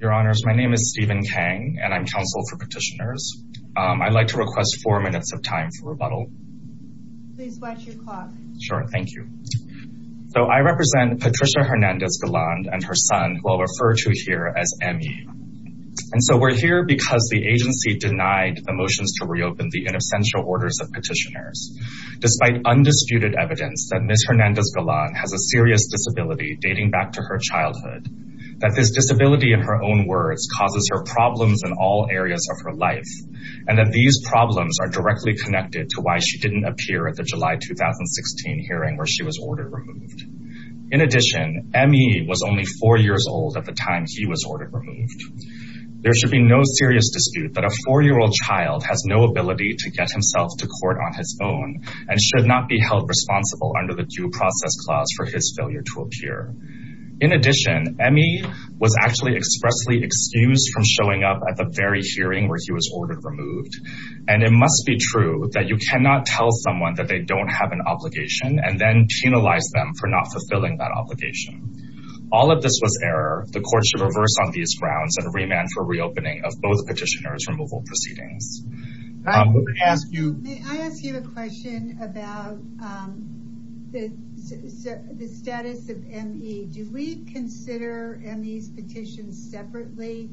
Your Honors, my name is Stephen Kang, and I'm counsel for petitioners. I'd like to request four minutes of time for rebuttal. Sure, thank you. So I represent Patricia Hernandez-Garland and her son, who I'll refer to here as Emmy. And so we're here because the agency denied the motions to reopen the inessential orders of petitioners. Despite undisputed evidence that Ms. Hernandez-Garland has a serious disability dating back to her childhood, that this disability, in her own words, causes her problems in all areas of her life, and that these problems are directly connected to why she didn't appear at the July 2016 hearing where she was ordered removed. In addition, Emmy was only four years old at the time he was ordered removed. There should be no serious dispute that a four-year-old child has no ability to get himself to court on his own and should not be held responsible under the due process clause for his failure to appear. In addition, Emmy was actually expressly excused from showing up at the very hearing where he was ordered removed, and it must be true that you cannot tell someone that they don't have an obligation and then penalize them for not fulfilling that obligation. All of this was error. The court should reverse on these grounds and remand for reopening of both petitioners' removal proceedings. May I ask you a question about the status of Emmy? Do we consider Emmy's petition separately,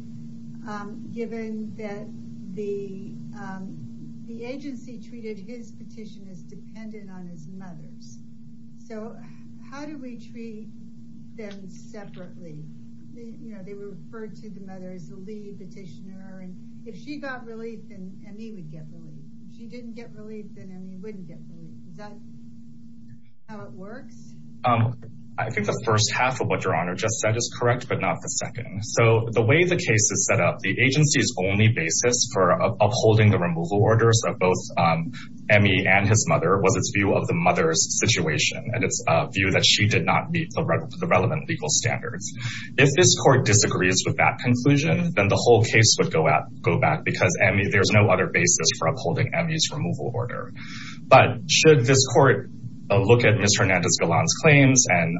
given that the agency treated his petition as dependent on his mother's? So, how do we treat them separately? You know, they were referred to the mother as the lead petitioner, and if she got relief, then Emmy would get relief. If she didn't get relief, then Emmy wouldn't get relief. Is that how it works? I think the first half of what Your Honor just said is correct, but not the second. So, the way the case is set up, the agency's only basis for upholding the removal orders of both Emmy and his mother was its view of the mother's situation, and it's a view that she did not meet the relevant legal standards. If this court disagrees with that conclusion, then the whole case would go back because there's no other basis for upholding Emmy's removal order. But, should this court look at Ms. Hernandez-Gillan's claims and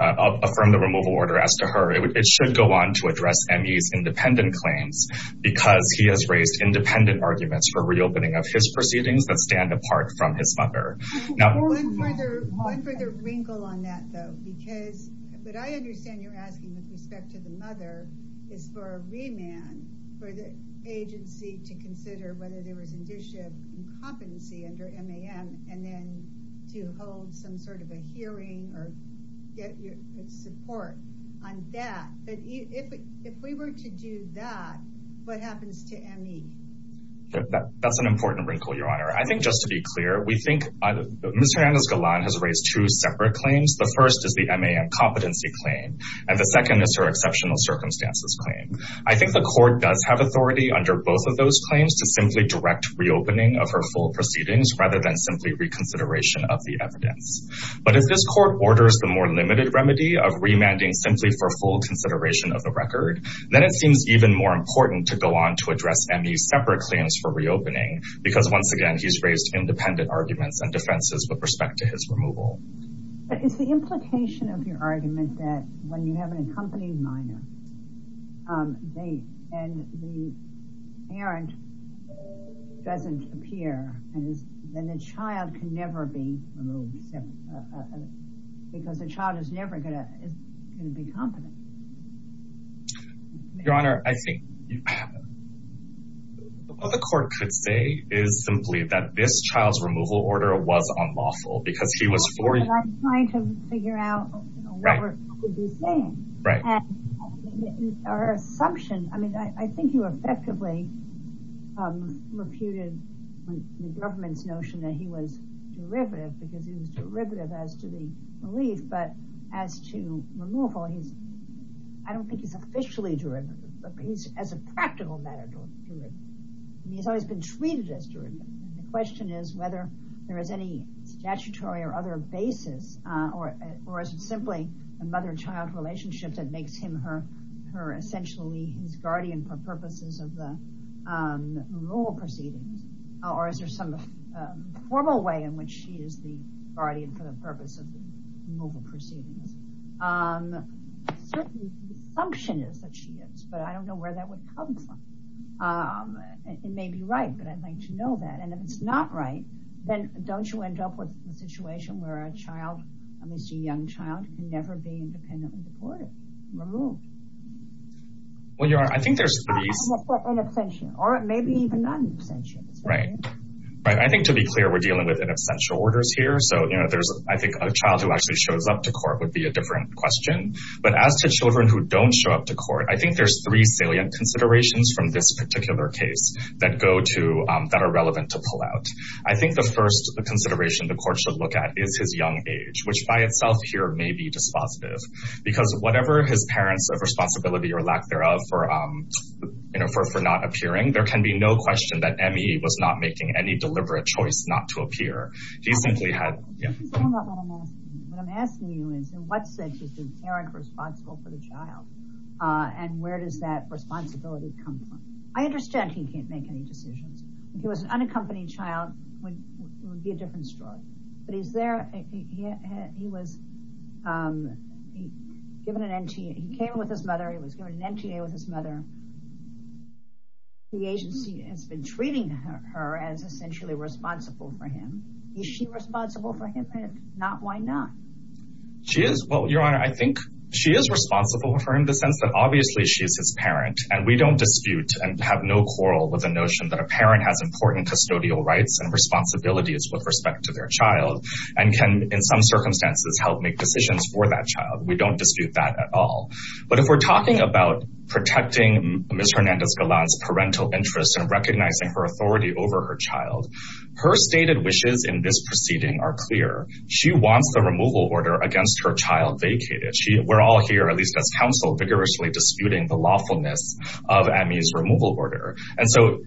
affirm the removal order as to her, it should go on to address Emmy's independent claims because he has raised independent arguments for reopening of his proceedings that stand apart from his mother. One further wrinkle on that, though, because what I understand you're asking with respect to the mother is for a remand for the agency to consider whether there was an issue of competency under MAM, and then to hold some sort of a hearing or get support on that, but if we were to do that, what happens to Emmy? That's an important wrinkle, Your Honor. I think just to be clear, we think Ms. Hernandez-Gillan has raised two separate claims. The first is the MAM competency claim, and the second is her exceptional circumstances claim. I think the court does have authority under both of those claims to simply direct reopening of her full proceedings rather than simply reconsideration of the evidence. But if this court orders the more limited remedy of remanding simply for full consideration of the record, then it seems even more important to go on to address Emmy's separate claims for reopening because, once again, he's raised independent arguments and defenses with respect to his removal. But is the implication of your argument that when you have an accompanying minor, and the parent doesn't appear, then the child can never be removed because the child is never going to be competent? Your Honor, I think what the court could say is simply that this child's removal order was unlawful because she was for you. I'm trying to figure out what we're saying, and our assumption, I mean, I think you effectively refuted the government's notion that he was derivative because he was derivative as to the relief, but as to removal, I don't think he's officially derivative, but he's as a practical matter derivative. He's always been treated as derivative. The question is whether there is any statutory or other basis, or is it simply a mother-child relationship that makes him her essentially his guardian for purposes of the removal proceedings? Or is there some formal way in which she is the guardian for the purpose of the removal proceedings? Certainly, the assumption is that she is, but I don't know where that would come from. It may be right, but I'd like to know that. And if it's not right, then don't you end up with a situation where a child, at least a young child, can never be independently deported, removed? Well, Your Honor, I think there's... In absentia, or maybe even not in absentia. I think, to be clear, we're dealing with in absentia orders here, so I think a child who actually shows up to court would be a different question. But as to children who don't show up to court, I think there's three salient considerations from this particular case that are relevant to pull out. I think the first consideration the court should look at is his young age, which by itself here may be dispositive. Because whatever his parents' responsibility or lack thereof for not appearing, there can be no question that Emmy was not making any deliberate choice not to appear. He simply had... What I'm asking you is, in what sense is the parent responsible for the child? And where does that responsibility come from? I understand he can't make any decisions. If he was an unaccompanied child, it would be a different story. But he's there... He was given an NTA. He came with his mother. He was given an NTA with his mother. The agency has been treating her as essentially responsible for him. Is she responsible for him? If not, why not? She is. Well, Your Honor, I think she is responsible for him in the sense that, obviously, she is his parent. And we don't dispute and have no quarrel with the notion that a parent has important custodial rights and responsibilities with respect to their child and can, in some circumstances, help make decisions for that child. We don't dispute that at all. But if we're talking about protecting Ms. Hernandez-Galan's parental interests and recognizing her authority over her child, her stated wishes in this proceeding are clear. She wants the removal order against her child vacated. We're all here, at least as counsel, vigorously disputing the lawfulness of ME's removal order. And so,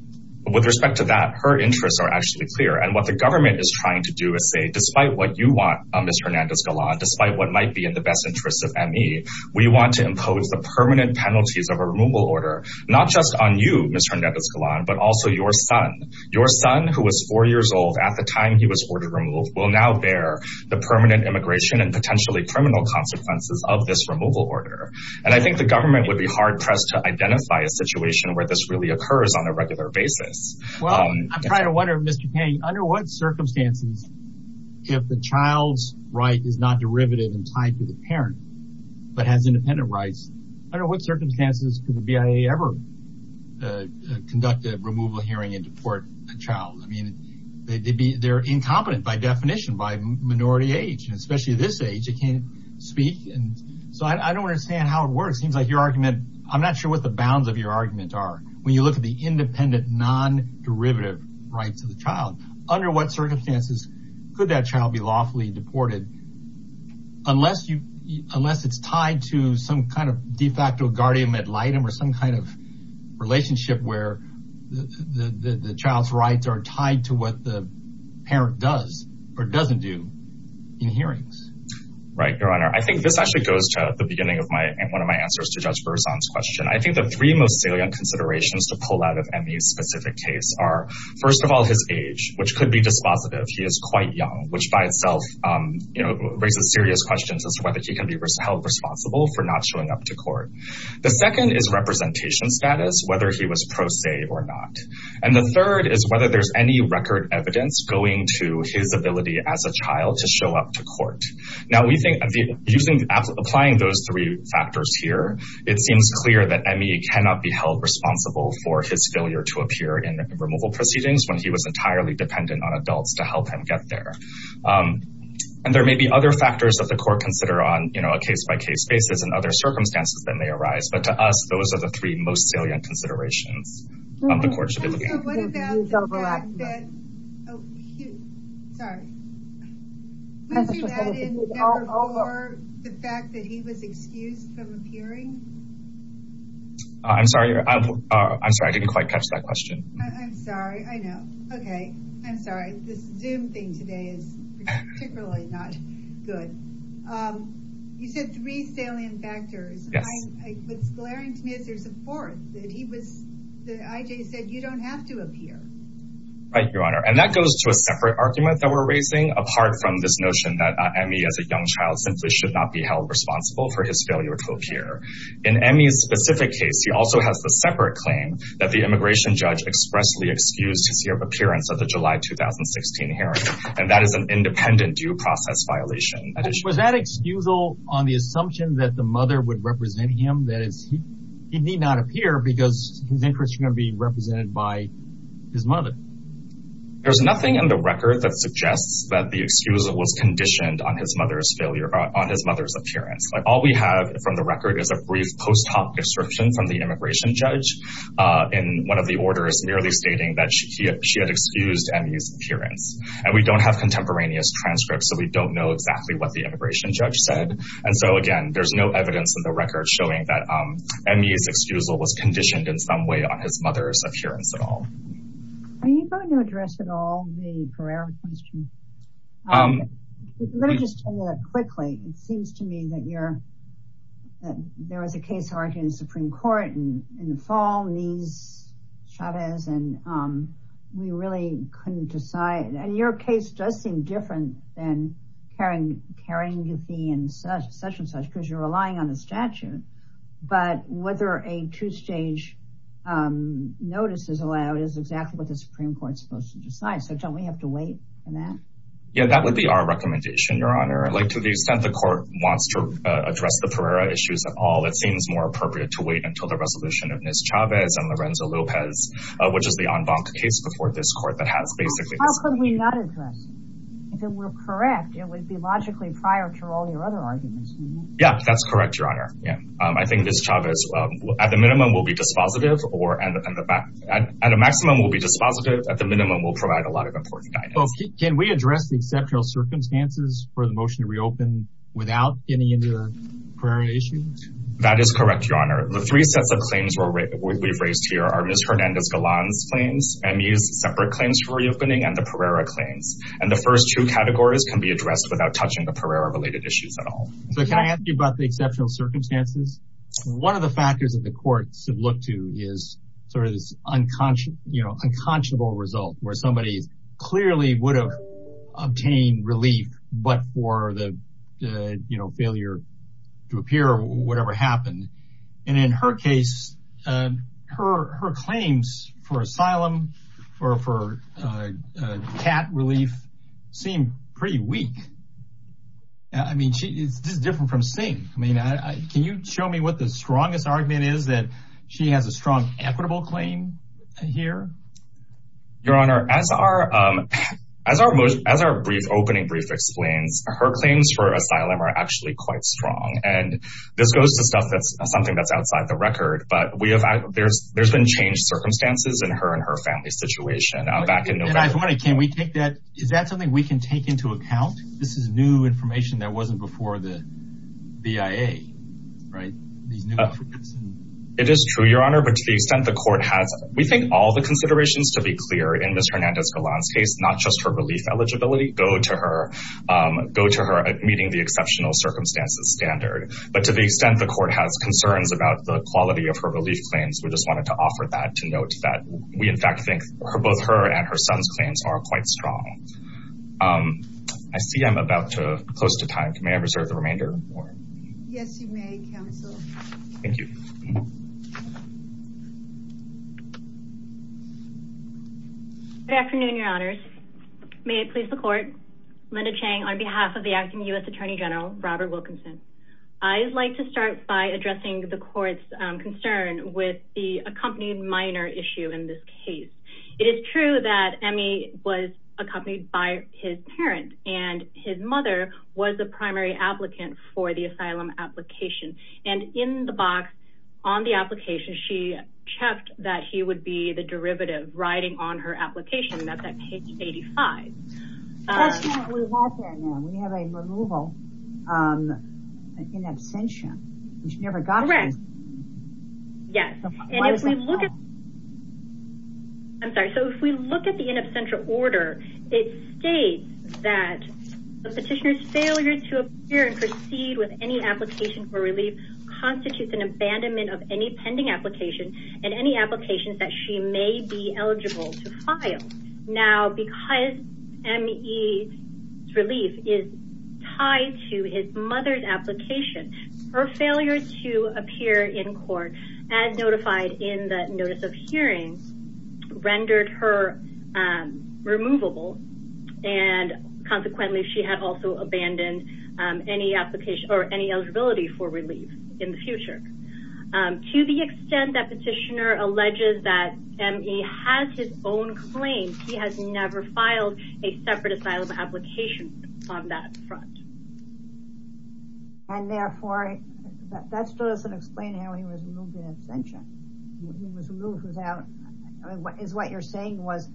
with respect to that, her interests are actually clear. And what the government is trying to do is say, despite what you want, Ms. Hernandez-Galan, despite what might be in the best interests of ME, we want to impose the permanent penalties of a removal order, not just on you, Ms. Hernandez-Galan, but also your son. Your son, who was four years old at the time he was ordered removed, will now bear the permanent immigration and potentially criminal consequences of this removal order. And I think the government would be hard-pressed to identify a situation where this really occurs on a regular basis. Well, I'm trying to wonder, Mr. Payne, under what circumstances, if the child's right is not derivative and tied to the parent but has independent rights, under what circumstances could the BIA ever conduct a removal hearing and deport a child? I mean, they're incompetent by definition by minority age. And especially at this age, they can't speak. So I don't understand how it works. It seems like your argument – I'm not sure what the bounds of your argument are. When you look at the independent, non-derivative rights of the child, under what circumstances could that child be lawfully deported unless it's tied to some kind of de facto guardian ad litem or some kind of relationship where the child's rights are tied to what the parent does or doesn't do in hearings? Right, Your Honor. I think this actually goes to the beginning of one of my answers to Judge Berzon's question. I think the three most salient considerations to pull out of Emmy's specific case are, first of all, his age, which could be dispositive. He is quite young, which by itself raises serious questions as to whether he can be held responsible for not showing up to court. The second is representation status, whether he was pro se or not. And the third is whether there's any record evidence going to his ability as a child to show up to court. Now, applying those three factors here, it seems clear that Emmy cannot be held responsible for his failure to appear in removal proceedings when he was entirely dependent on adults to help him get there. And there may be other factors that the court consider on a case-by-case basis and other circumstances that may arise. But to us, those are the three most salient considerations the court should be looking at. Your Honor, what about the fact that he was excused from appearing? I'm sorry. I'm sorry. I didn't quite catch that question. I'm sorry. I know. Okay. I'm sorry. This Zoom thing today is particularly not good. You said three salient factors. What's glaring to me is there's a fourth, that he was, that I.J. said, you don't have to appear. Right, Your Honor. And that goes to a separate argument that we're raising, apart from this notion that Emmy as a young child simply should not be held responsible for his failure to appear. In Emmy's specific case, he also has the separate claim that the immigration judge expressly excused his year of appearance at the July 2016 hearing. And that is an independent due process violation. Was that excusal on the assumption that the mother would represent him? That is, he need not appear because his interests are going to be represented by his mother. There's nothing in the record that suggests that the excusal was conditioned on his mother's failure, on his mother's appearance. All we have from the record is a brief post hoc description from the immigration judge in one of the orders merely stating that she had excused Emmy's appearance. And we don't have contemporaneous transcripts, so we don't know exactly what the immigration judge said. And so, again, there's no evidence in the record showing that Emmy's excusal was conditioned in some way on his mother's appearance at all. Are you going to address at all the Pereira question? It seems to me that there was a case argued in the Supreme Court in the fall. And we really couldn't decide. And your case does seem different than carrying the fee and such and such because you're relying on the statute. But whether a two-stage notice is allowed is exactly what the Supreme Court is supposed to decide. So don't we have to wait for that? Yeah, that would be our recommendation, Your Honor. Like, to the extent the court wants to address the Pereira issues at all, it seems more appropriate to wait until the resolution of Ms. Chavez and Lorenzo Lopez, which is the en banc case before this court that has basically— How could we not address it? If it were correct, it would be logically prior to all your other arguments, wouldn't it? Yeah, that's correct, Your Honor. I think Ms. Chavez, at the minimum, will be dispositive or—at a maximum, will be dispositive. At the minimum, will provide a lot of important guidance. Can we address the exceptional circumstances for the motion to reopen without getting into the Pereira issues? That is correct, Your Honor. The three sets of claims we've raised here are Ms. Hernandez-Golan's claims, ME's separate claims for reopening, and the Pereira claims. And the first two categories can be addressed without touching the Pereira-related issues at all. So can I ask you about the exceptional circumstances? One of the factors that the courts have looked to is sort of this unconscious—unconscionable result where somebody clearly would have obtained relief but for the failure to appear or whatever happened. And in her case, her claims for asylum or for cat relief seem pretty weak. I mean she—this is different from Singh. I mean, can you show me what the strongest argument is that she has a strong equitable claim here? Your Honor, as our brief opening brief explains, her claims for asylum are actually quite strong. And this goes to stuff that's something that's outside the record, but we have—there's been changed circumstances in her and her family's situation back in November. And I'm wondering, can we take that—is that something we can take into account? This is new information that wasn't before the BIA, right? It is true, Your Honor, but to the extent the court has—we think all the considerations, to be clear, in Ms. Hernandez-Golan's case, not just her relief eligibility, go to her meeting the exceptional circumstances standard. But to the extent the court has concerns about the quality of her relief claims, we just wanted to offer that to note that we in fact think both her and her son's claims are quite strong. I see I'm about to close to time. May I reserve the remainder of the morning? Yes, you may, counsel. Thank you. Good afternoon, Your Honors. May I please the court? Linda Chang on behalf of the acting U.S. Attorney General, Robert Wilkinson. I'd like to start by addressing the court's concern with the accompanied minor issue in this case. It is true that Emmy was accompanied by his parents, and his mother was the primary applicant for the asylum application. And in the box on the application, she checked that he would be the derivative riding on her application. That's at page 85. That's not what we have there now. We have a removal in absentia. Correct. Yes. I'm sorry. So if we look at the in absentia order, it states that the petitioner's failure to appear and proceed with any application for relief constitutes an abandonment of any pending application and any applications that she may be eligible to file. Now, because Emmy's relief is tied to his mother's application, her failure to appear in court as notified in the notice of hearing rendered her removable. And consequently, she had also abandoned any application or any eligibility for relief in the future. To the extent that petitioner alleges that Emmy has his own claim, he has never filed a separate asylum application on that front. And therefore, that doesn't explain how he was removed in absentia. He was removed without, is what you're saying was,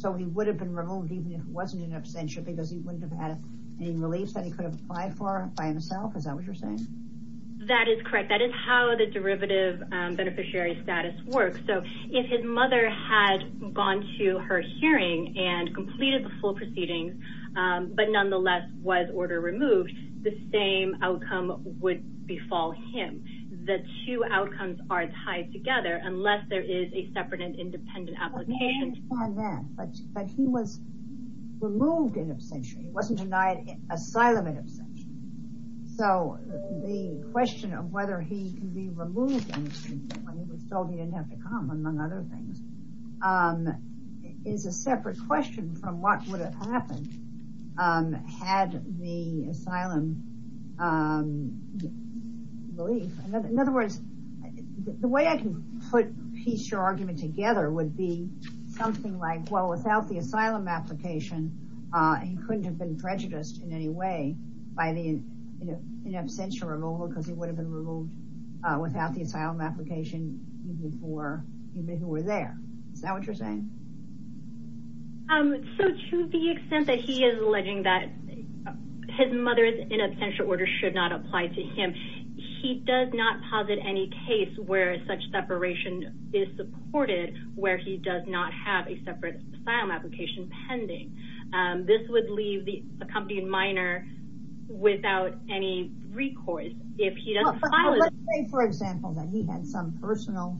so he would have been removed even if it wasn't in absentia because he wouldn't have had any relief that he could have applied for by himself? Is that what you're saying? That is correct. That is how the derivative beneficiary status works. So if his mother had gone to her hearing and completed the full proceedings, but nonetheless was order removed, the same outcome would befall him. The two outcomes are tied together unless there is a separate and independent application. But he was removed in absentia. He wasn't denied asylum in absentia. So the question of whether he can be removed when he was told he didn't have to come, among other things, is a separate question from what would have happened had the asylum relief. In other words, the way I can put your argument together would be something like, well, without the asylum application, he couldn't have been prejudiced in any way by the in absentia removal because he would have been removed without the asylum application for people who were there. Is that what you're saying? So to the extent that he is alleging that his mother's in absentia order should not apply to him, he does not posit any case where such separation is supported where he does not have a separate asylum application pending. This would leave the accompanied minor without any recourse if he doesn't file it. Let's say, for example, that he had some personal,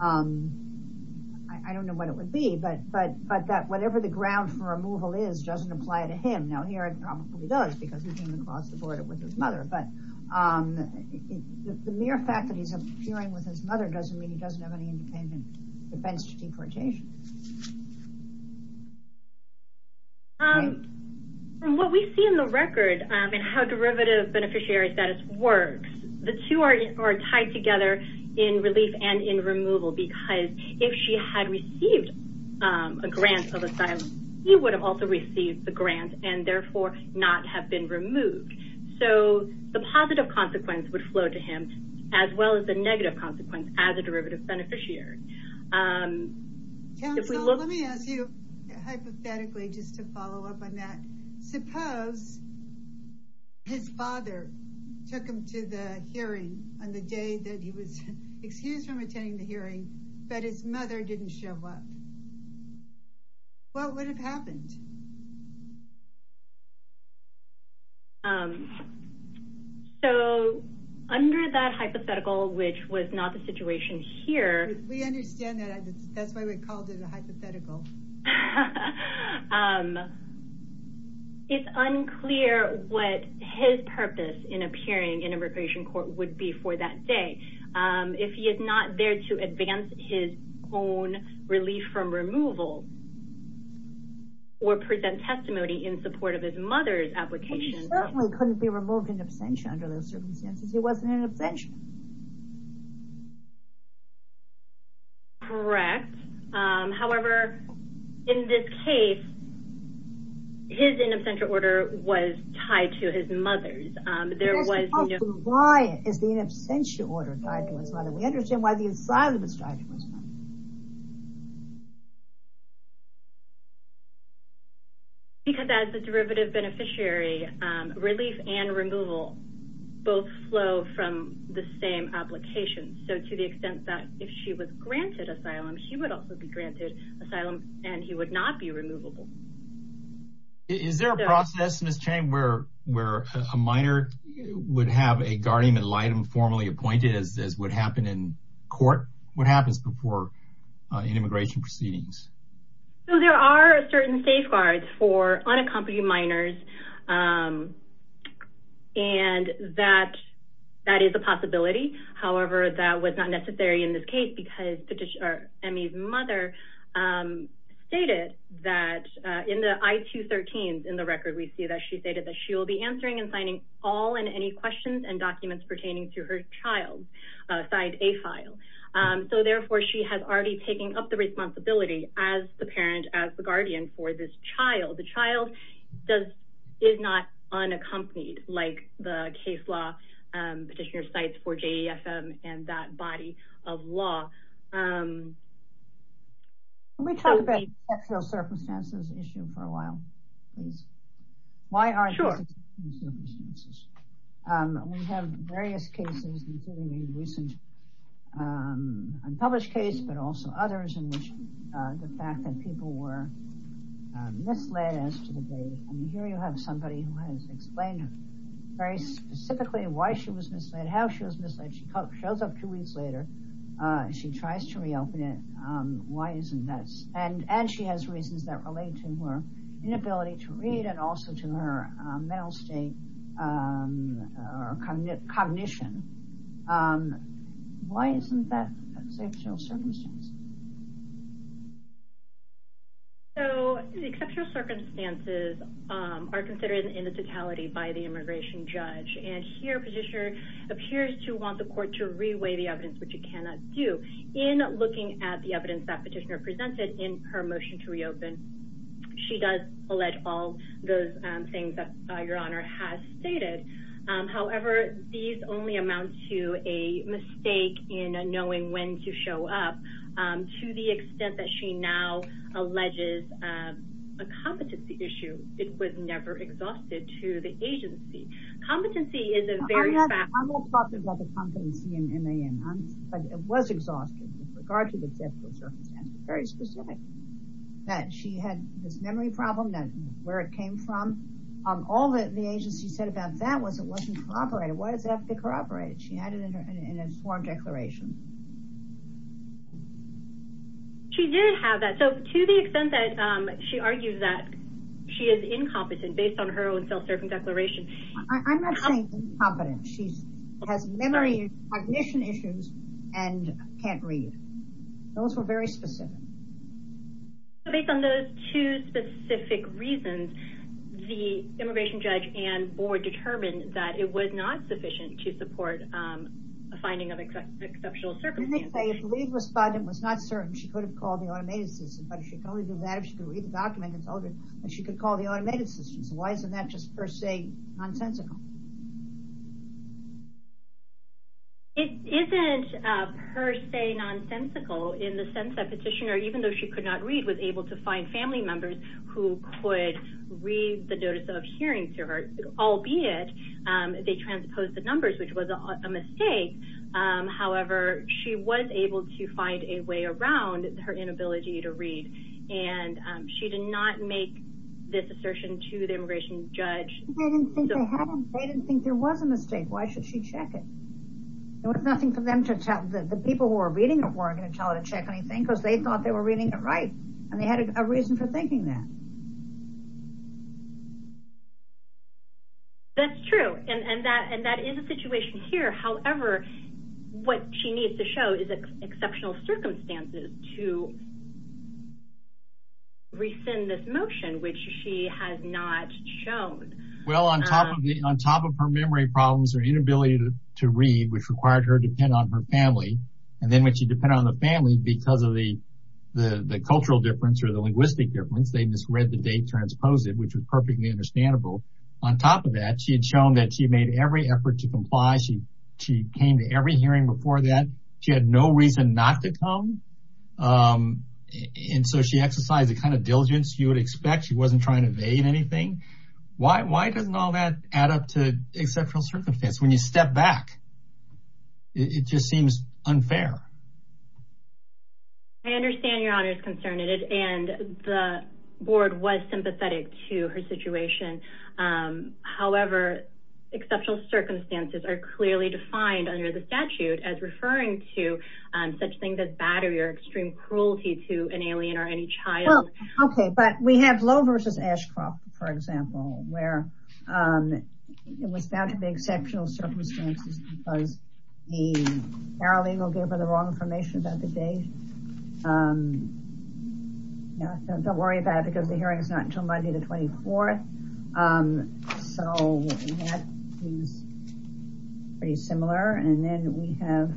I don't know what it would be, but that whatever the ground for removal is doesn't apply to him. No, here it probably does because he came across the border with his mother, but the mere fact that he's appearing with his mother doesn't mean he doesn't have any independent defense to deportation. From what we see in the record and how derivative beneficiary status works, the two are tied together in relief and in removal because if she had received a grant of asylum, he would have also received the grant and therefore not have been removed. So the positive consequence would flow to him as well as the negative consequence as a derivative beneficiary. Counsel, let me ask you hypothetically just to follow up on that. Suppose his father took him to the hearing on the day that he was excused from attending the hearing, but his mother didn't show up. What would have happened? So under that hypothetical, which was not the situation here, we understand that. That's why we called it a hypothetical. It's unclear what his purpose in appearing in immigration court would be for that day. If he is not there to advance his own relief from removal or present testimony in support of his mother's application. He certainly couldn't be removed in absentia under those circumstances. He wasn't in absentia. Correct. However, in this case, his in absentia order was tied to his mother's. Why is the in absentia order tied to his mother? We understand why the asylum is tied to his mother. Because as a derivative beneficiary, relief and removal both flow from the same application. So to the extent that if she was granted asylum, he would also be granted asylum and he would not be removable. Is there a process, Ms. Chang, where a minor would have a guardian ad litem formally appointed as would happen in court? What happens before an immigration proceedings? So there are certain safeguards for unaccompanied minors. And that is a possibility. However, that was not necessary in this case because Emi's mother stated that in the I-213s in the record, we see that she stated that she will be answering and signing all and any questions and documents pertaining to her child's side A file. So therefore, she has already taken up the responsibility as the parent, as the guardian for this child. The child is not unaccompanied like the case law petitioner cites for J.E.F.M. and that body of law. Can we talk about sexual circumstances issue for a while, please? Why are there sexual circumstances? We have various cases, including a recent unpublished case, but also others in which the fact that people were misled as to the date. And here you have somebody who has explained very specifically why she was misled, how she was misled. She shows up two weeks later. She tries to reopen it. Why isn't this? And she has reasons that relate to her inability to read and also to her mental state or cognition. Why isn't that a sexual circumstance? So the sexual circumstances are considered in the totality by the immigration judge and here petitioner appears to want the court to reweigh the evidence, which it cannot do in looking at the evidence that petitioner presented in her motion to reopen. She does allege all those things that your honor has stated. However, these only amount to a mistake in knowing when to show up to the extent that she now alleges a competency issue. It was never exhausted to the agency. Competency is a very. I'm not talking about the competency in the end, but it was exhausted with regard to the sexual circumstance. Very specific that she had this memory problem that where it came from. All that the agency said about that was it wasn't cooperated. Why does it have to cooperate? She had it in a sworn declaration. She did have that. So to the extent that she argues that she is incompetent based on her own self-serving declaration. I'm not saying competence. She has memory, cognition issues and can't read. Those were very specific. So based on those two specific reasons, the immigration judge and board determined that it was not sufficient to support a finding of exceptional circumstances. The lead respondent was not certain she could have called the automated system, but she could only do that if she could read the document and told her that she could call the automated system. So why isn't that just per se nonsensical? It isn't per se nonsensical in the sense that petitioner, even though she could not read, was able to find family members who could read the notice of hearing to her, albeit they transposed the numbers, which was a mistake. However, she was able to find a way around her inability to read and she did not make this assertion to the immigration judge. They didn't think there was a mistake. Why should she check it? It was nothing for them to tell the people who were reading it weren't going to tell her to check anything because they thought they were reading it right. And they had a reason for thinking that. That's true. And that is a situation here. However, what she needs to show is exceptional circumstances to rescind this motion, which she has not shown. Well, on top of her memory problems, her inability to read, which required her to depend on her family. And then when she depended on the family because of the cultural difference or the linguistic difference, they misread the date transposed it, which was perfectly understandable. On top of that, she had shown that she made every effort to comply. She came to every hearing before that. She had no reason not to come. And so she exercised the kind of diligence you would expect. She wasn't trying to evade anything. Why doesn't all that add up to exceptional circumstance? When you step back, it just seems unfair. I understand Your Honor's concern. And the board was sympathetic to her situation. However, exceptional circumstances are clearly defined under the statute as referring to such things as battery or extreme cruelty to an alien or any child. OK, but we have Lowe versus Ashcroft, for example, where it was found to be exceptional circumstances because the paralegal gave her the wrong information about the date. Don't worry about it because the hearing is not until Monday, the 24th. So that is pretty similar. And then we have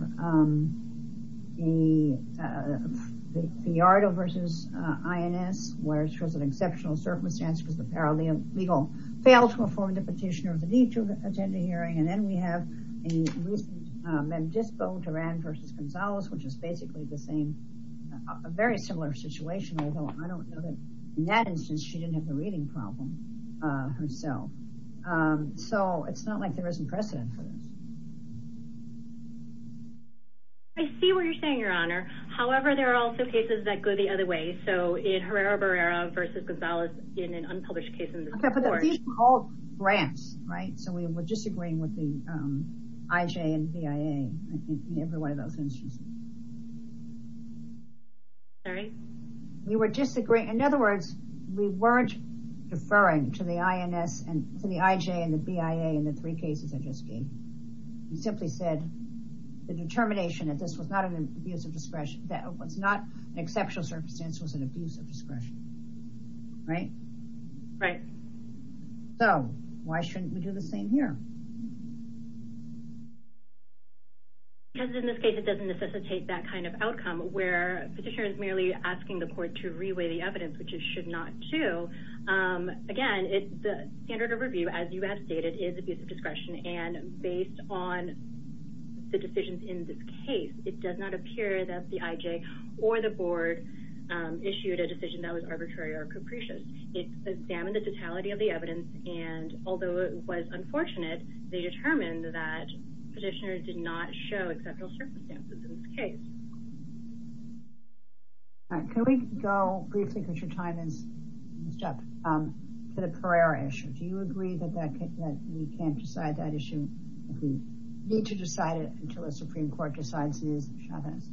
the Fiyardo versus Ines, where she was an exceptional circumstance because the paralegal failed to inform the petitioner of the need to attend the hearing. And then we have a recent Mendisco, Duran versus Gonzales, which is basically the same, a very similar situation. In that instance, she didn't have the reading problem herself. So it's not like there isn't precedent for this. I see what you're saying, Your Honor. However, there are also cases that go the other way. So in Herrera-Barrera versus Gonzales in an unpublished case in this court. OK, but these are all grants, right? So we're disagreeing with the IJ and BIA in every one of those instances. Sorry? We were disagreeing. In other words, we weren't deferring to the IJ and the BIA in the three cases I just gave. We simply said the determination that this was not an abuse of discretion, that it was not an exceptional circumstance, was an abuse of discretion. Right? Right. So why shouldn't we do the same here? Because in this case, it doesn't necessitate that kind of outcome where a petitioner is merely asking the court to reweigh the evidence, which it should not do. Again, the standard of review, as you have stated, is abuse of discretion. And based on the decisions in this case, it does not appear that the IJ or the board issued a decision that was arbitrary or capricious. It examined the totality of the evidence. And although it was unfortunate, they determined that petitioners did not show exceptional circumstances in this case. All right. Can we go briefly, because your time is up, to the Pereira issue? Do you agree that we can't decide that issue, that we need to decide it until a Supreme Court decides it is shabbos?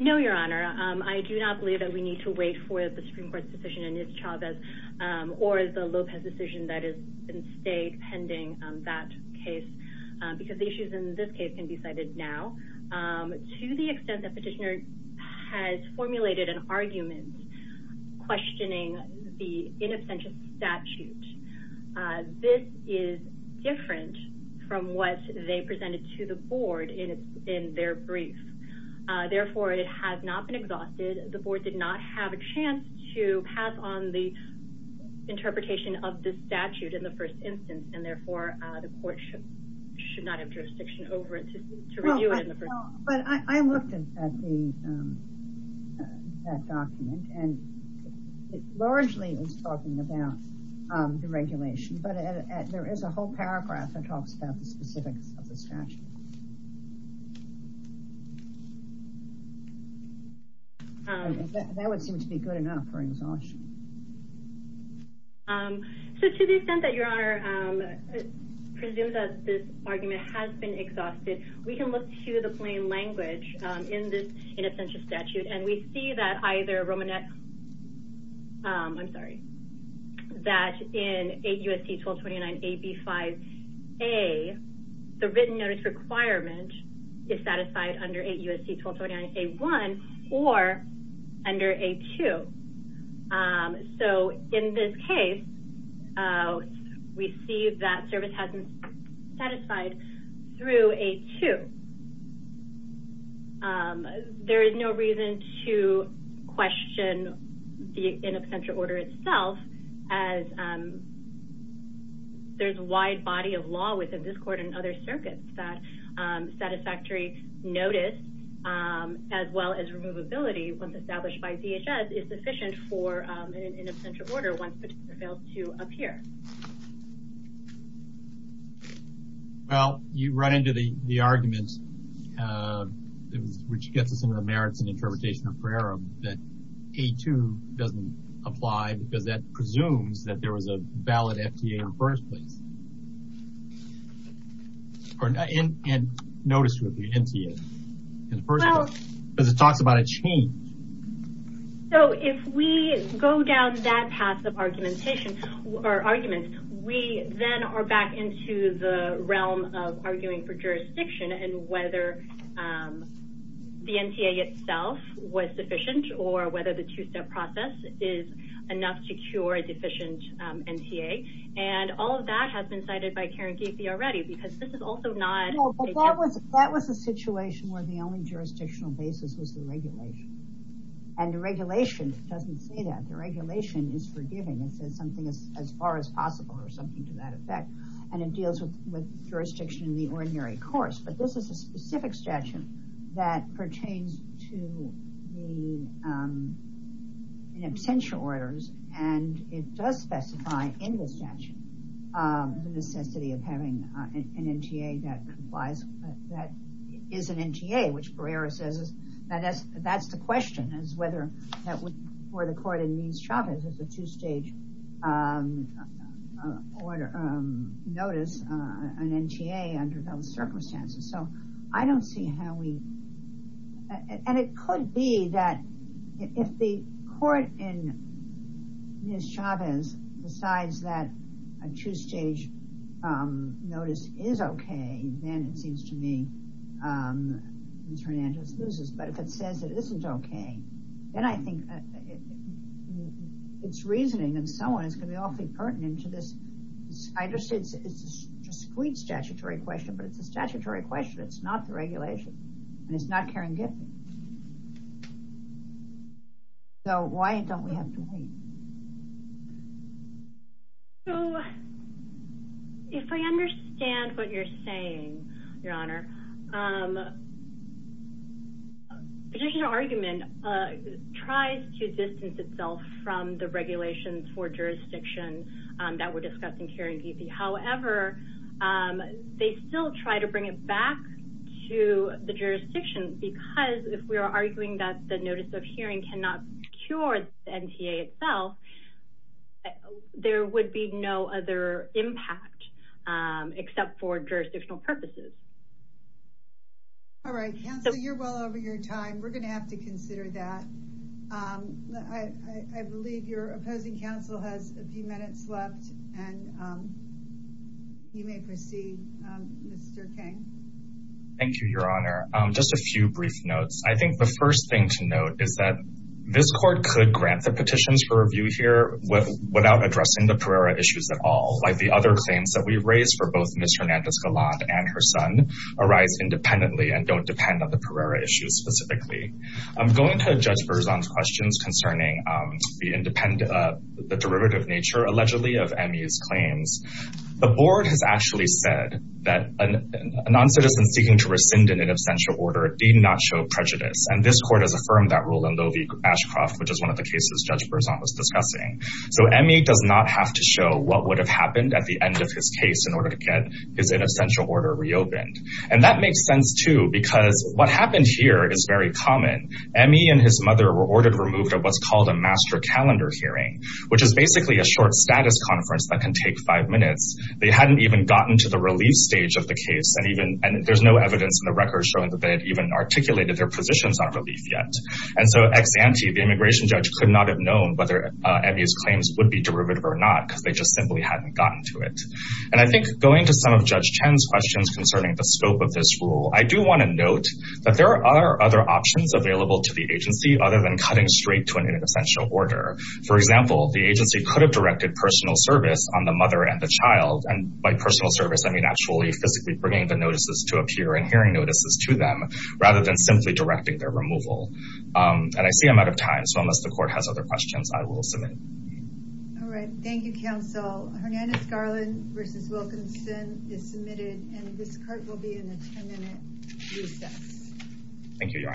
No, Your Honor. I do not believe that we need to wait for the Supreme Court's decision and its shabbos or the Lopez decision that has been stayed pending that case, because the issues in this case can be cited now. To the extent that petitioner has formulated an argument questioning the in absentia statute, this is different from what they presented to the board in their brief. Therefore, it has not been exhausted. The board did not have a chance to pass on the interpretation of the statute in the first instance. And therefore, the court should not have jurisdiction over it to review it in the first instance. But I looked at that document, and it largely is talking about deregulation, but there is a whole paragraph that talks about the specifics of the statute. That would seem to be good enough for exhaustion. To the extent that Your Honor presumes that this argument has been exhausted, we can look to the plain language in this in absentia statute, and we see that in 8 U.S.C. 1229 AB 5A, the written notice requirement is satisfied under 8 U.S.C. 1229 A1 or under A2. So, in this case, we see that service has been satisfied through A2. There is no reason to question the in absentia order itself, as there is a wide body of law within this court and other circuits that satisfactory notice, as well as removability, once established by DHS, is sufficient for an in absentia order once petitioner fails to appear. Well, you run into the argument, which gets us into the merits and interpretation of Ferrerum, that A2 doesn't apply because that presumes that there was a valid FTA in the first place. And notice with the NTA in the first place, because it talks about a change. So, if we go down that path of arguments, we then are back into the realm of arguing for jurisdiction and whether the NTA itself was sufficient or whether the two-step process is enough to cure a deficient NTA. And all of that has been cited by Karen Gateby already, because this is also not... Well, that was a situation where the only jurisdictional basis was the regulation. And the regulation doesn't say that. The regulation is forgiving. It says something as far as possible or something to that effect. And it deals with jurisdiction in the ordinary course. But this is a specific statute that pertains to the in absentia orders, and it does specify in the statute the necessity of having an NTA that is an NTA. Which Ferrerum says is that that's the question, is whether that would, for the court in Nies-Chavez, is a two-stage order notice, an NTA under those circumstances. So, I don't see how we... And it could be that if the court in Nies-Chavez decides that a two-stage notice is okay, then it seems to me Nies-Fernandez loses. But if it says it isn't okay, then I think its reasoning and so on is going to be awfully pertinent to this. I understand it's a discrete statutory question, but it's a statutory question. It's not the regulation. And it's not Karen Gateby. So, why don't we have to wait? So, if I understand what you're saying, Your Honor, petitioner argument tries to distance itself from the regulations for jurisdiction that were discussed in Karen Gateby. Well, there would be no other impact except for jurisdictional purposes. All right. Counselor, you're well over your time. We're going to have to consider that. I believe your opposing counsel has a few minutes left, and you may proceed, Mr. Kang. Thank you, Your Honor. Just a few brief notes. I think the first thing to note is that this court could grant the petitions for review here without addressing the Pereira issues at all, like the other claims that we've raised for both Ms. Hernandez-Gallant and her son arise independently and don't depend on the Pereira issues specifically. Going to Judge Berzon's questions concerning the derivative nature, allegedly, of Emmy's claims, the board has actually said that a noncitizen seeking to rescind an inobstantial order did not show prejudice. And this court has affirmed that rule in Loewy-Ashcroft, which is one of the cases Judge Berzon was discussing. So, Emmy does not have to show what would have happened at the end of his case in order to get his inobstantial order reopened. And that makes sense, too, because what happened here is very common. Emmy and his mother were ordered removed at what's called a master calendar hearing, which is basically a short status conference that can take five minutes. They hadn't even gotten to the relief stage of the case, and there's no evidence in the records showing that they had even articulated their positions on relief yet. And so ex ante, the immigration judge could not have known whether Emmy's claims would be derivative or not because they just simply hadn't gotten to it. And I think going to some of Judge Chen's questions concerning the scope of this rule, I do want to note that there are other options available to the agency other than cutting straight to an inobstantial order. For example, the agency could have directed personal service on the mother and the child. And by personal service, I mean actually physically bringing the notices to a peer and hearing notices to them rather than simply directing their removal. And I see I'm out of time, so unless the court has other questions, I will submit. All right. Thank you, Counsel. Hernandez-Garland v. Wilkinson is submitted, and this court will be in a 10-minute recess.